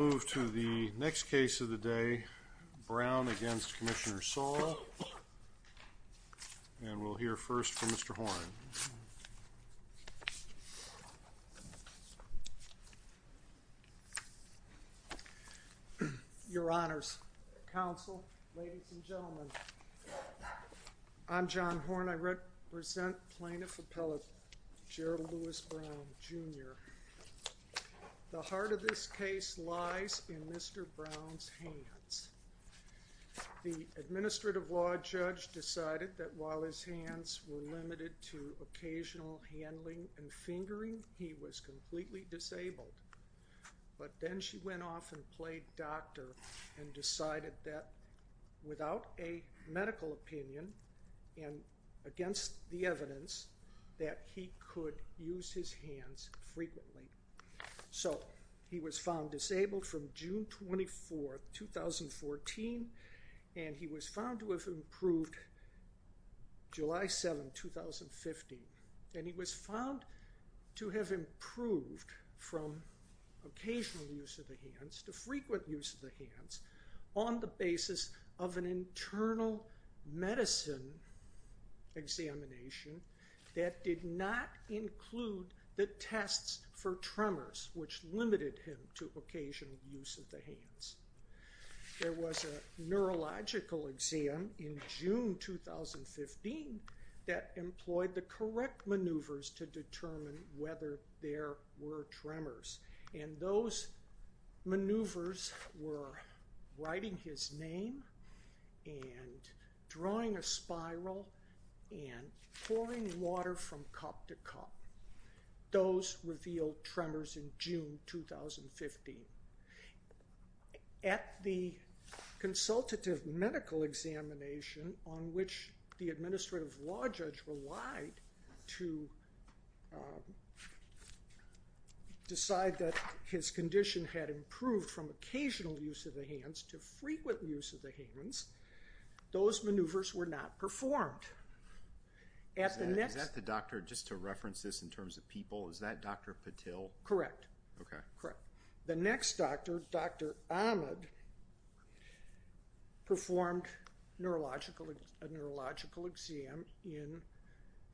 We'll move to the next case of the day, Brown v. Commissioner Sola, and we'll hear first from Mr. Horn. Your Honors, Counsel, Ladies and Gentlemen, I'm John Horn, I represent Plaintiff Appellate Gerald Lewis Brown, Jr. The heart of this case lies in Mr. Brown's hands. The Administrative Law Judge decided that while his hands were limited to occasional handling and fingering, he was completely disabled. But then she went off and played doctor and decided that without a medical opinion and against the evidence that he could use his hands frequently. So he was found disabled from June 24, 2014, and he was found to have improved July 7, 2015. And he was found to have improved from occasional use of the hands to frequent use of the hands on the basis of an internal medicine examination that did not include the tests for tremors which limited him to occasional use of the hands. There was a neurological exam in June 2015 that employed the correct maneuvers to determine whether there were tremors. And those maneuvers were writing his name and drawing a spiral and pouring water from cup to cup. Those revealed tremors in June 2015. At the consultative medical examination on which the Administrative Law Judge relied to decide that his condition had improved from occasional use of the hands to frequent use of the hands, those maneuvers were not performed. At the next- Is that the doctor, just to reference this in terms of people, is that Dr. Patil? Correct. Okay. The next doctor, Dr. Ahmed, performed a neurological exam in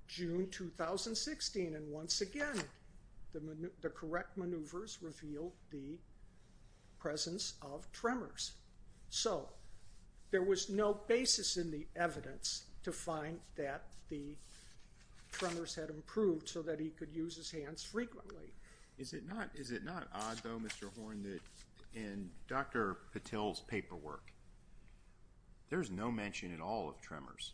June 2016, and once again the correct maneuvers revealed the presence of tremors. So there was no basis in the evidence to find that the tremors had improved so that he could use his hands frequently. Is it not odd, though, Mr. Horne, that in Dr. Patil's paperwork, there's no mention at all of tremors?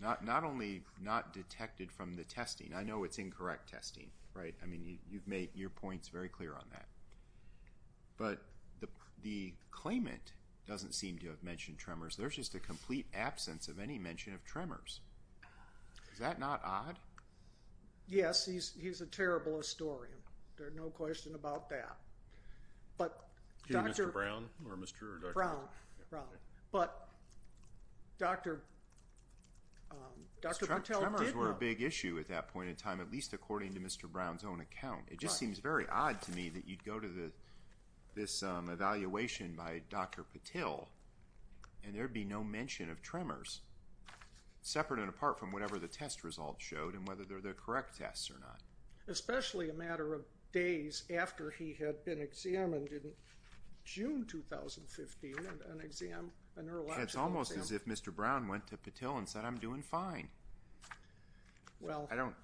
Not only not detected from the testing, I know it's incorrect testing, right? I mean, you've made your points very clear on that. But the claimant doesn't seem to have mentioned tremors. There's just a complete absence of any mention of tremors. Is that not odd? Yes. Yes, he's a terrible historian. There's no question about that. But Dr. Brown. But Dr. Patil did- Because tremors were a big issue at that point in time, at least according to Mr. Brown's own account. It just seems very odd to me that you'd go to this evaluation by Dr. Patil and there'd be no mention of tremors, separate and apart from whatever the test results showed and whether they're the correct tests or not. Especially a matter of days after he had been examined in June 2015, a neurological exam. It's almost as if Mr. Brown went to Patil and said, I'm doing fine.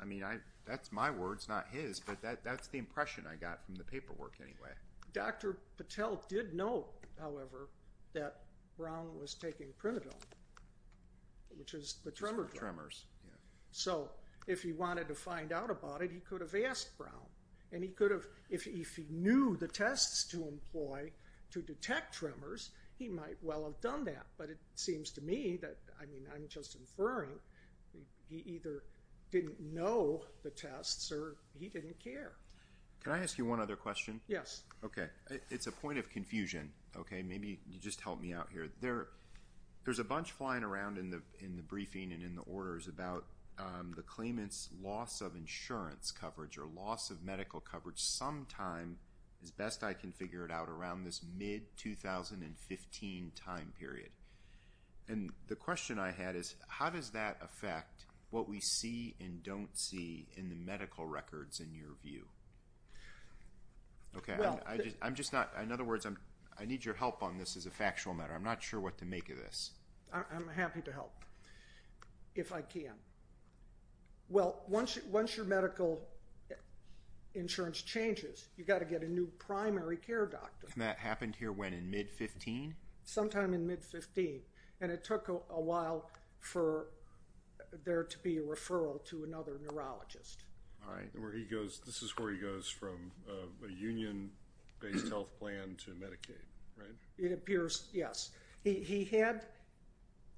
I mean, that's my words, not his, but that's the impression I got from the paperwork anyway. Dr. Patil did note, however, that Brown was taking Primadom, which is the tremor drug. So, if he wanted to find out about it, he could have asked Brown. And if he knew the tests to employ to detect tremors, he might well have done that. But it seems to me that, I mean, I'm just inferring, he either didn't know the tests or he didn't care. Can I ask you one other question? Yes. Okay. It's a point of confusion, okay? Maybe you just help me out here. There's a bunch flying around in the briefing and in the orders about the claimant's loss of insurance coverage or loss of medical coverage sometime, as best I can figure it out, around this mid-2015 time period. And the question I had is, how does that affect what we see and don't see in the medical records in your view? Okay. I'm just not, in other words, I need your help on this as a factual matter. I'm not sure what to make of this. I'm happy to help, if I can. Well, once your medical insurance changes, you've got to get a new primary care doctor. And that happened here when, in mid-2015? Sometime in mid-2015. And it took a while for there to be a referral to another neurologist. All right. And where he goes, this is where he goes from a union-based health plan to Medicaid, right? It appears, yes. He had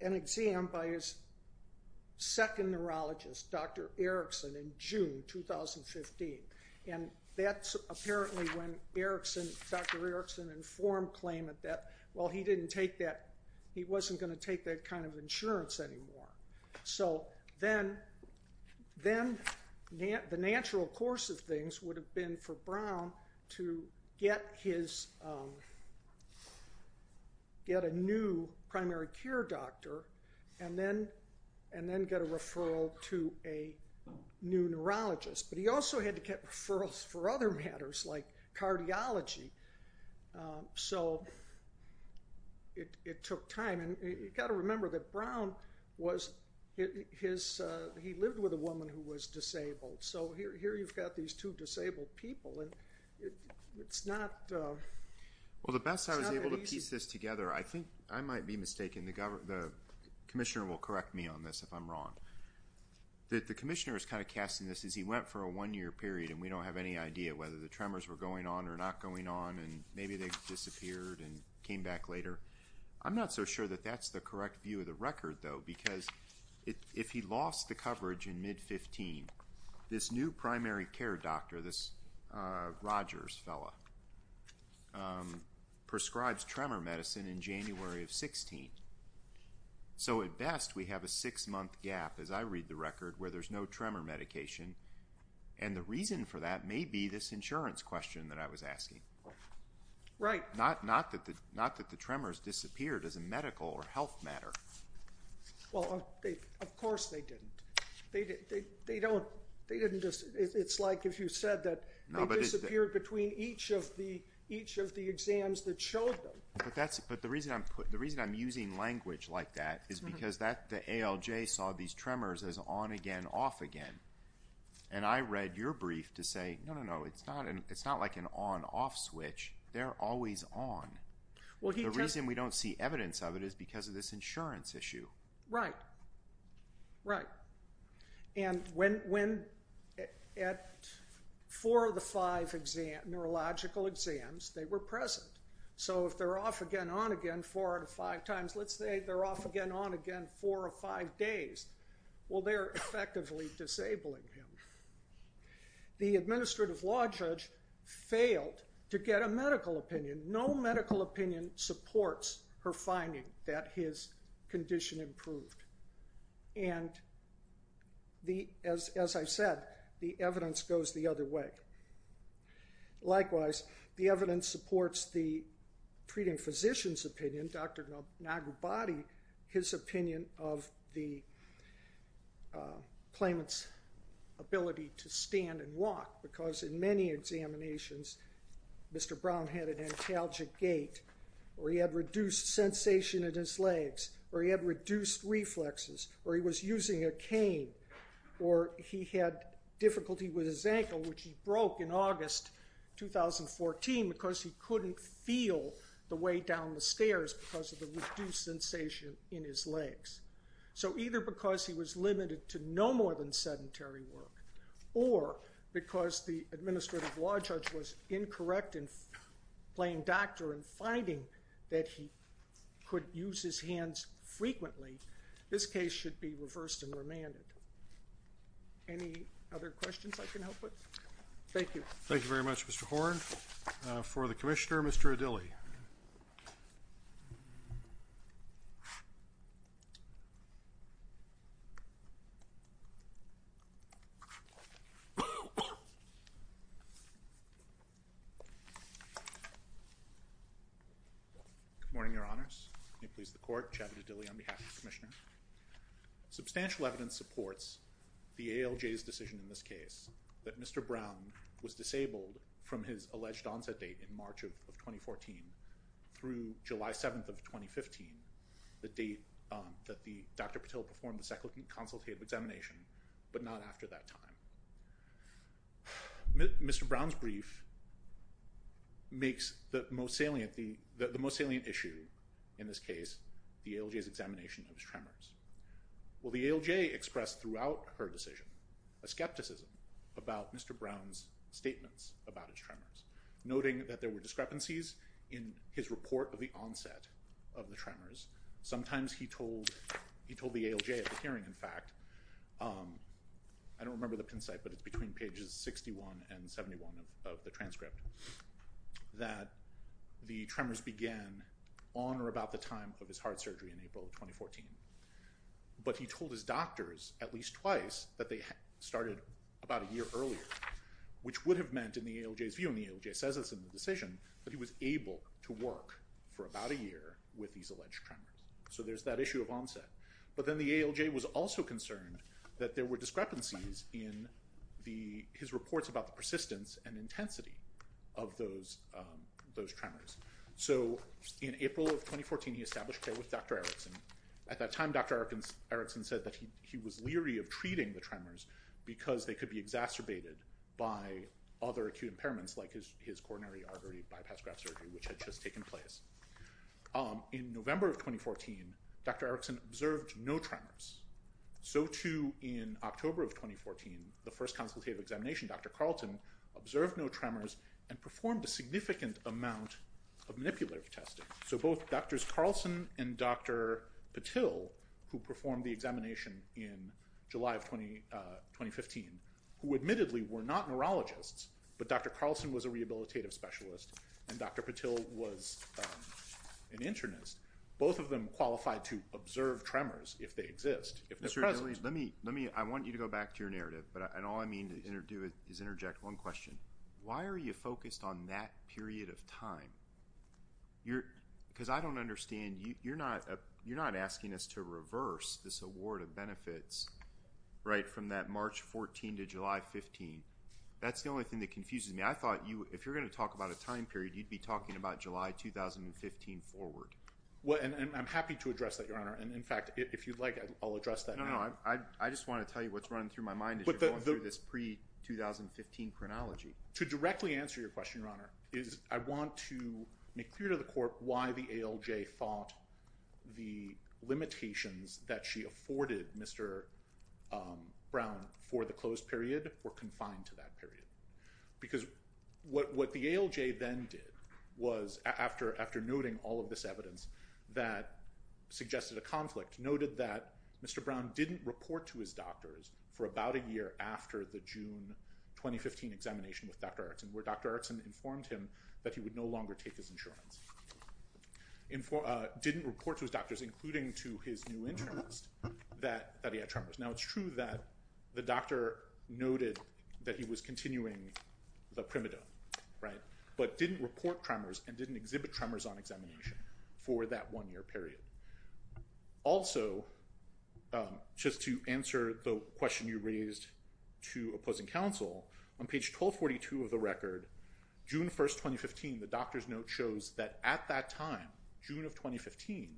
an exam by his second neurologist, Dr. Erickson, in June 2015. And that's apparently when Dr. Erickson informed claimant that, well, he didn't take that, he wasn't going to take that kind of insurance anymore. So then the natural course of things would have been for Brown to get a new primary care doctor and then get a referral to a new neurologist. But he also had to get referrals for other matters, like cardiology. So it took time. And you've got to remember that Brown was, he lived with a woman who was disabled. So here you've got these two disabled people, and it's not, it's not that easy. Well, the best I was able to piece this together, I think, I might be mistaken, the commissioner will correct me on this if I'm wrong, that the commissioner is kind of casting this as he went for a one-year period, and we don't have any idea whether the tremors were going on or not going on, and maybe they disappeared and came back later. I'm not so sure that that's the correct view of the record, though, because if he lost the coverage in mid-15, this new primary care doctor, this Rogers fellow, prescribes tremor medicine in January of 16. So at best, we have a six-month gap, as I read the record, where there's no tremor medication. And the reason for that may be this insurance question that I was asking. Right. Not that the tremors disappeared as a medical or health matter. Well, of course they didn't. They don't, they didn't just, it's like if you said that they disappeared between each of the exams that showed them. But the reason I'm using language like that is because the ALJ saw these tremors as on again, off again. And I read your brief to say, no, no, no, it's not like an on-off switch. They're always on. The reason we don't see evidence of it is because of this insurance issue. Right. Right. And when, at four of the five neurological exams, they were present. So if they're off again, on again four out of five times, let's say they're off again, on again four or five days, well, they're effectively disabling him. The administrative law judge failed to get a medical opinion. No medical opinion supports her finding that his condition improved. And as I said, the evidence goes the other way. Likewise, the evidence supports the treating physician's opinion, Dr. Nagurbati, his opinion of the claimant's ability to stand and walk. Because in many examinations, Mr. Brown had an antalgic gait, or he had reduced sensation in his legs, or he had reduced reflexes, or he was using a cane, or he had difficulty with his ankle, which he broke in August 2014 because he couldn't feel the way down the So either because he was limited to no more than sedentary work, or because the administrative law judge was incorrect in playing doctor and finding that he could use his hands frequently, this case should be reversed and remanded. Any other questions I can help with? Thank you. Thank you very much, Mr. Horne. For the commissioner, Mr. Adili. Good morning, Your Honors, may it please the court, Javid Adili on behalf of the commissioner. Substantial evidence supports the ALJ's decision in this case that Mr. Brown was disabled from his alleged onset date in March of 2014 through July 7th of 2015, the date that Dr. Patil performed the second consultative examination, but not after that time. Mr. Brown's brief makes the most salient issue in this case the ALJ's examination of his tremors. Will the ALJ express throughout her decision a skepticism about Mr. Brown's statements about his tremors, noting that there were discrepancies in his report of the onset of the tremors. Sometimes he told the ALJ at the hearing, in fact, I don't remember the pin site but it's between pages 61 and 71 of the transcript, that the tremors began on or about the time of his heart surgery in April of 2014. But he told his doctors at least twice that they started about a year earlier, which would have meant, in the ALJ's view, and the ALJ says this in the decision, that he was able to work for about a year with these alleged tremors. So there's that issue of onset. But then the ALJ was also concerned that there were discrepancies in his reports about the persistence and intensity of those tremors. So in April of 2014 he established care with Dr. Erickson. At that time Dr. Erickson said that he was leery of treating the tremors because they could be exacerbated by other acute impairments like his coronary artery bypass graft surgery, which had just taken place. In November of 2014, Dr. Erickson observed no tremors. So too in October of 2014, the first consultative examination, Dr. Carlton observed no tremors and performed a significant amount of manipulative testing. So both Drs. Carlson and Dr. Patil, who performed the examination in July of 2015, who admittedly were not neurologists, but Dr. Carlson was a rehabilitative specialist and Dr. Patil was an internist, both of them qualified to observe tremors if they exist, if they're present. I want you to go back to your narrative, and all I mean to do is interject one question. Why are you focused on that period of time? Because I don't understand, you're not asking us to reverse this award of benefits right from that March 14 to July 15. That's the only thing that confuses me. I thought if you're going to talk about a time period, you'd be talking about July 2015 forward. Well, and I'm happy to address that, Your Honor, and in fact, if you'd like, I'll address that now. No, no, I just want to tell you what's running through my mind as you're going through this pre-2015 chronology. To directly answer your question, Your Honor, is I want to make clear to the court why the ALJ thought the limitations that she afforded Mr. Brown for the closed period were confined to that period. Because what the ALJ then did was, after noting all of this evidence that suggested a conflict, noted that Mr. Brown didn't report to his doctors for about a year after the June 2015 examination with Dr. Erickson, where Dr. Erickson informed him that he would no longer take his insurance. Didn't report to his doctors, including to his new internist, that he had tremors. Now it's true that the doctor noted that he was continuing the primidone, right? But didn't report tremors and didn't exhibit tremors on examination for that one year period. Also, just to answer the question you raised to opposing counsel, on page 1242 of the record, June 1st, 2015, the doctor's note shows that at that time, June of 2015,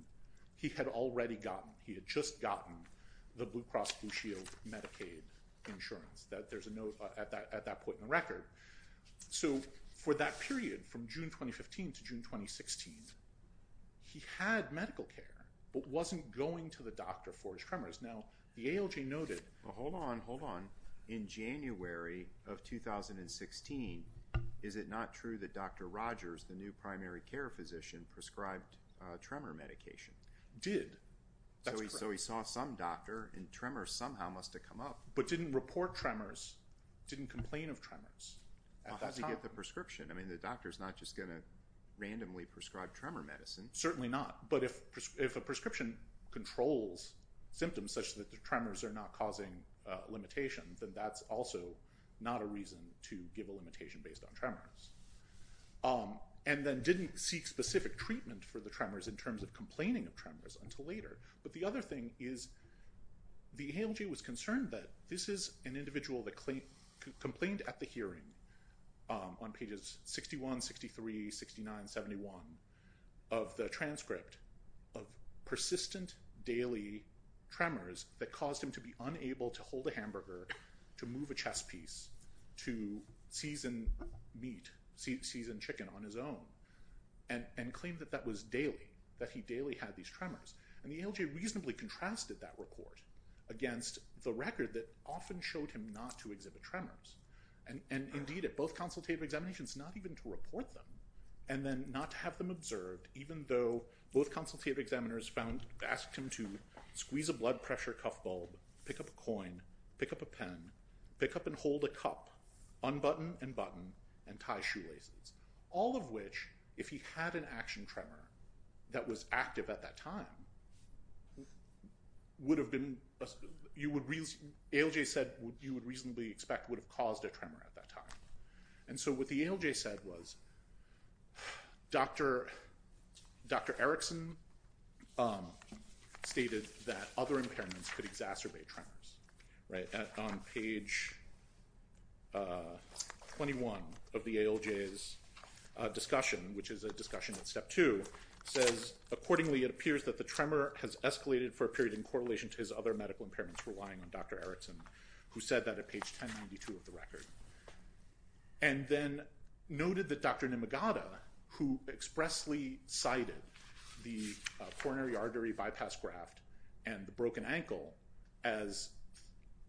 he had already gotten, he had just gotten the Blue Cross Blue Shield Medicaid insurance. That there's a note at that point in the record. So for that period, from June 2015 to June 2016, he had medical care, but wasn't going to the doctor for his tremors. Now the ALJ noted... Well, hold on, hold on. In January of 2016, is it not true that Dr. Rogers, the new primary care physician, prescribed tremor medication? Did. That's correct. So he saw some doctor and tremors somehow must have come up. But didn't report tremors. Didn't complain of tremors. How does he get the prescription? I mean, the doctor's not just going to randomly prescribe tremor medicine. Certainly not. But if a prescription controls symptoms such that the tremors are not causing limitation, then that's also not a reason to give a limitation based on tremors. And then didn't seek specific treatment for the tremors in terms of complaining of tremors until later. But the other thing is the ALJ was concerned that this is an individual that complained at the hearing on pages 61, 63, 69, 71 of the transcript of persistent daily tremors that caused him to be unable to hold a hamburger, to move a chess piece, to season meat, season chicken on his own, and claimed that that was daily, that he daily had these tremors. And the ALJ reasonably contrasted that report against the record that often showed him not to exhibit tremors. And, indeed, at both consultative examinations, not even to report them, and then not to have them observed, even though both consultative examiners found, asked him to squeeze a blood pressure cuff bulb, pick up a coin, pick up a pen, pick up and hold a cup, unbutton and button, and tie shoelaces. All of which, if he had an action tremor that was active at that time, would have been, you would, ALJ said you would reasonably expect would have caused a tremor at that time. And so what the ALJ said was, Dr. Erickson stated that other impairments could exacerbate the tremors. Right? On page 21 of the ALJ's discussion, which is a discussion at step two, says, accordingly, it appears that the tremor has escalated for a period in correlation to his other medical impairments, relying on Dr. Erickson, who said that at page 1092 of the record. And then noted that Dr. Nimagata, who expressly cited the coronary artery bypass graft and the broken ankle as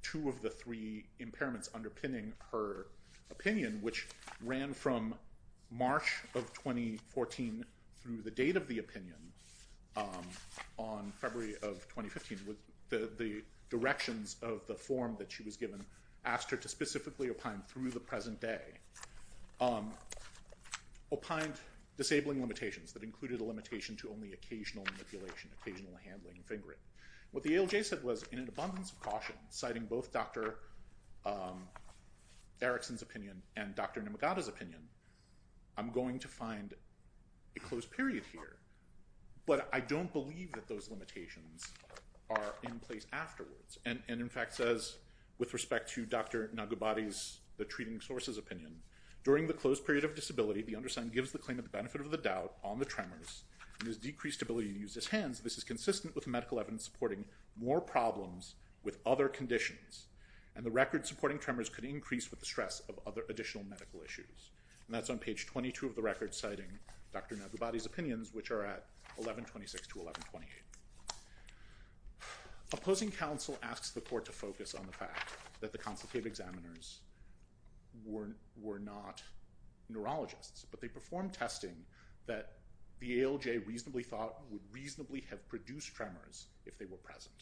two of the three impairments underpinning her opinion, which ran from March of 2014 through the date of the opinion, on February of 2015, with the directions of the form that she was given, asked her to specifically opine through the present day, opined disabling limitations that included a limitation to only occasional manipulation, occasional handling, and fingering. What the ALJ said was, in an abundance of caution, citing both Dr. Erickson's opinion and Dr. Nimagata's opinion, I'm going to find a closed period here. But I don't believe that those limitations are in place afterwards. And in fact says, with respect to Dr. Nagabati's, the treating source's opinion, during the closed period of disability, the undersigned gives the claim of the benefit of the doubt on the tremors and his decreased ability to use his hands. This is consistent with the medical evidence supporting more problems with other conditions. And the record supporting tremors could increase with the stress of other additional medical issues. And that's on page 22 of the record, citing Dr. Nagabati's opinions, which are at 1126 to 1128. Opposing counsel asks the court to focus on the fact that the consultative examiners were not neurologists, but they performed testing that the ALJ reasonably thought would reasonably have produced tremors if they were present.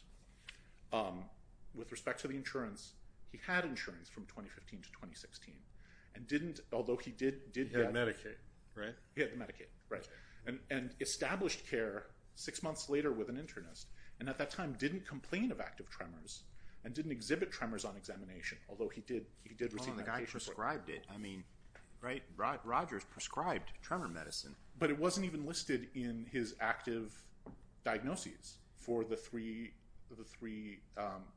With respect to the insurance, he had insurance from 2015 to 2016, and didn't, although he did get... He had Medicaid, right? He had Medicaid, right. And established care six months later with an internist, and at that time didn't complain of active tremors, and didn't exhibit tremors on examination, although he did receive medication. Well, and the guy prescribed it. I mean, right, Rogers prescribed tremor medicine. But it wasn't even listed in his active diagnoses for the three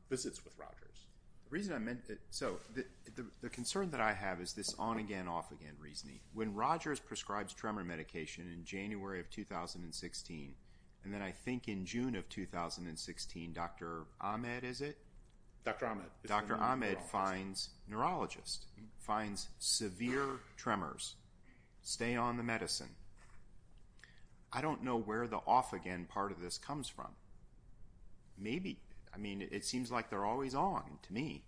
visits with Rogers. The reason I meant, so the concern that I have is this on-again, off-again reasoning. When Rogers prescribes tremor medication in January of 2016, and then I think in June of 2016, Dr. Ahmed, is it? Dr. Ahmed. Dr. Ahmed finds neurologists, finds severe tremors, stay on the medicine. I don't know where the off-again part of this comes from. Maybe, I mean, it seems like they're always on to me.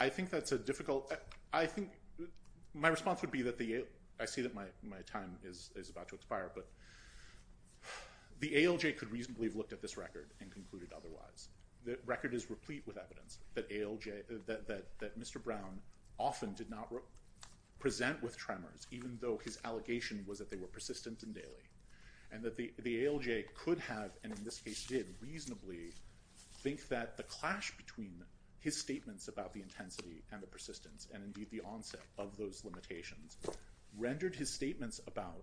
I think that's a difficult... I think my response would be that the... I see that my time is about to expire, but the ALJ could reasonably have looked at this record and concluded otherwise. The record is replete with evidence that Mr. Brown often did not present with tremors, even though his allegation was that they were persistent and daily. And that the ALJ could have, and in this case did, reasonably think that the clash between his statements about the intensity and the persistence, and indeed the onset of those limitations, rendered his statements about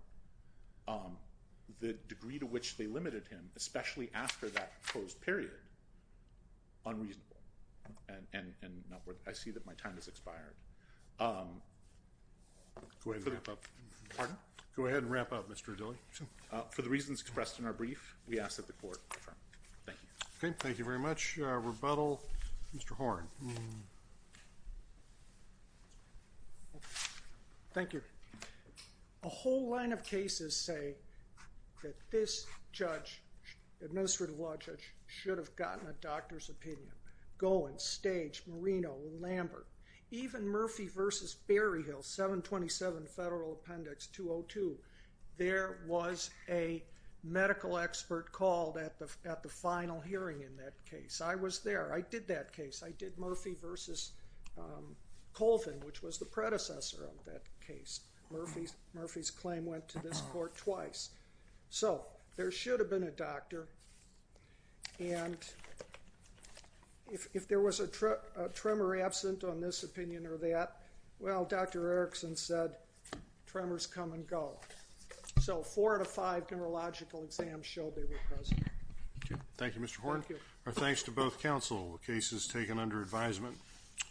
the degree to which they limited him, especially after that closed period, unreasonable. And not worth... I see that my time has expired. Go ahead and wrap up. Pardon? Go ahead and wrap up, Mr. Adili. For the reasons expressed in our brief, we ask that the Court confirm. Thank you. Okay. Thank you very much. Rebuttal? Mr. Horne. Thank you. A whole line of cases say that this judge, administrative law judge, should have gotten a doctor's opinion. Golan, Stage, Marino, Lambert, even Murphy v. Berryhill, 727 Federal Appendix 202, there was a medical expert called at the final hearing in that case. I was there. I did that case. I did Murphy v. Colvin, which was the predecessor of that case. Murphy's claim went to this Court twice. So there should have been a doctor, and if there was a tremor absent on this opinion or that, well, Dr. Erickson said, tremors come and go. So four out of five neurological exams showed they were present. Thank you, Mr. Horne. Thank you. Our thanks to both counsel. The case is taken under advisement.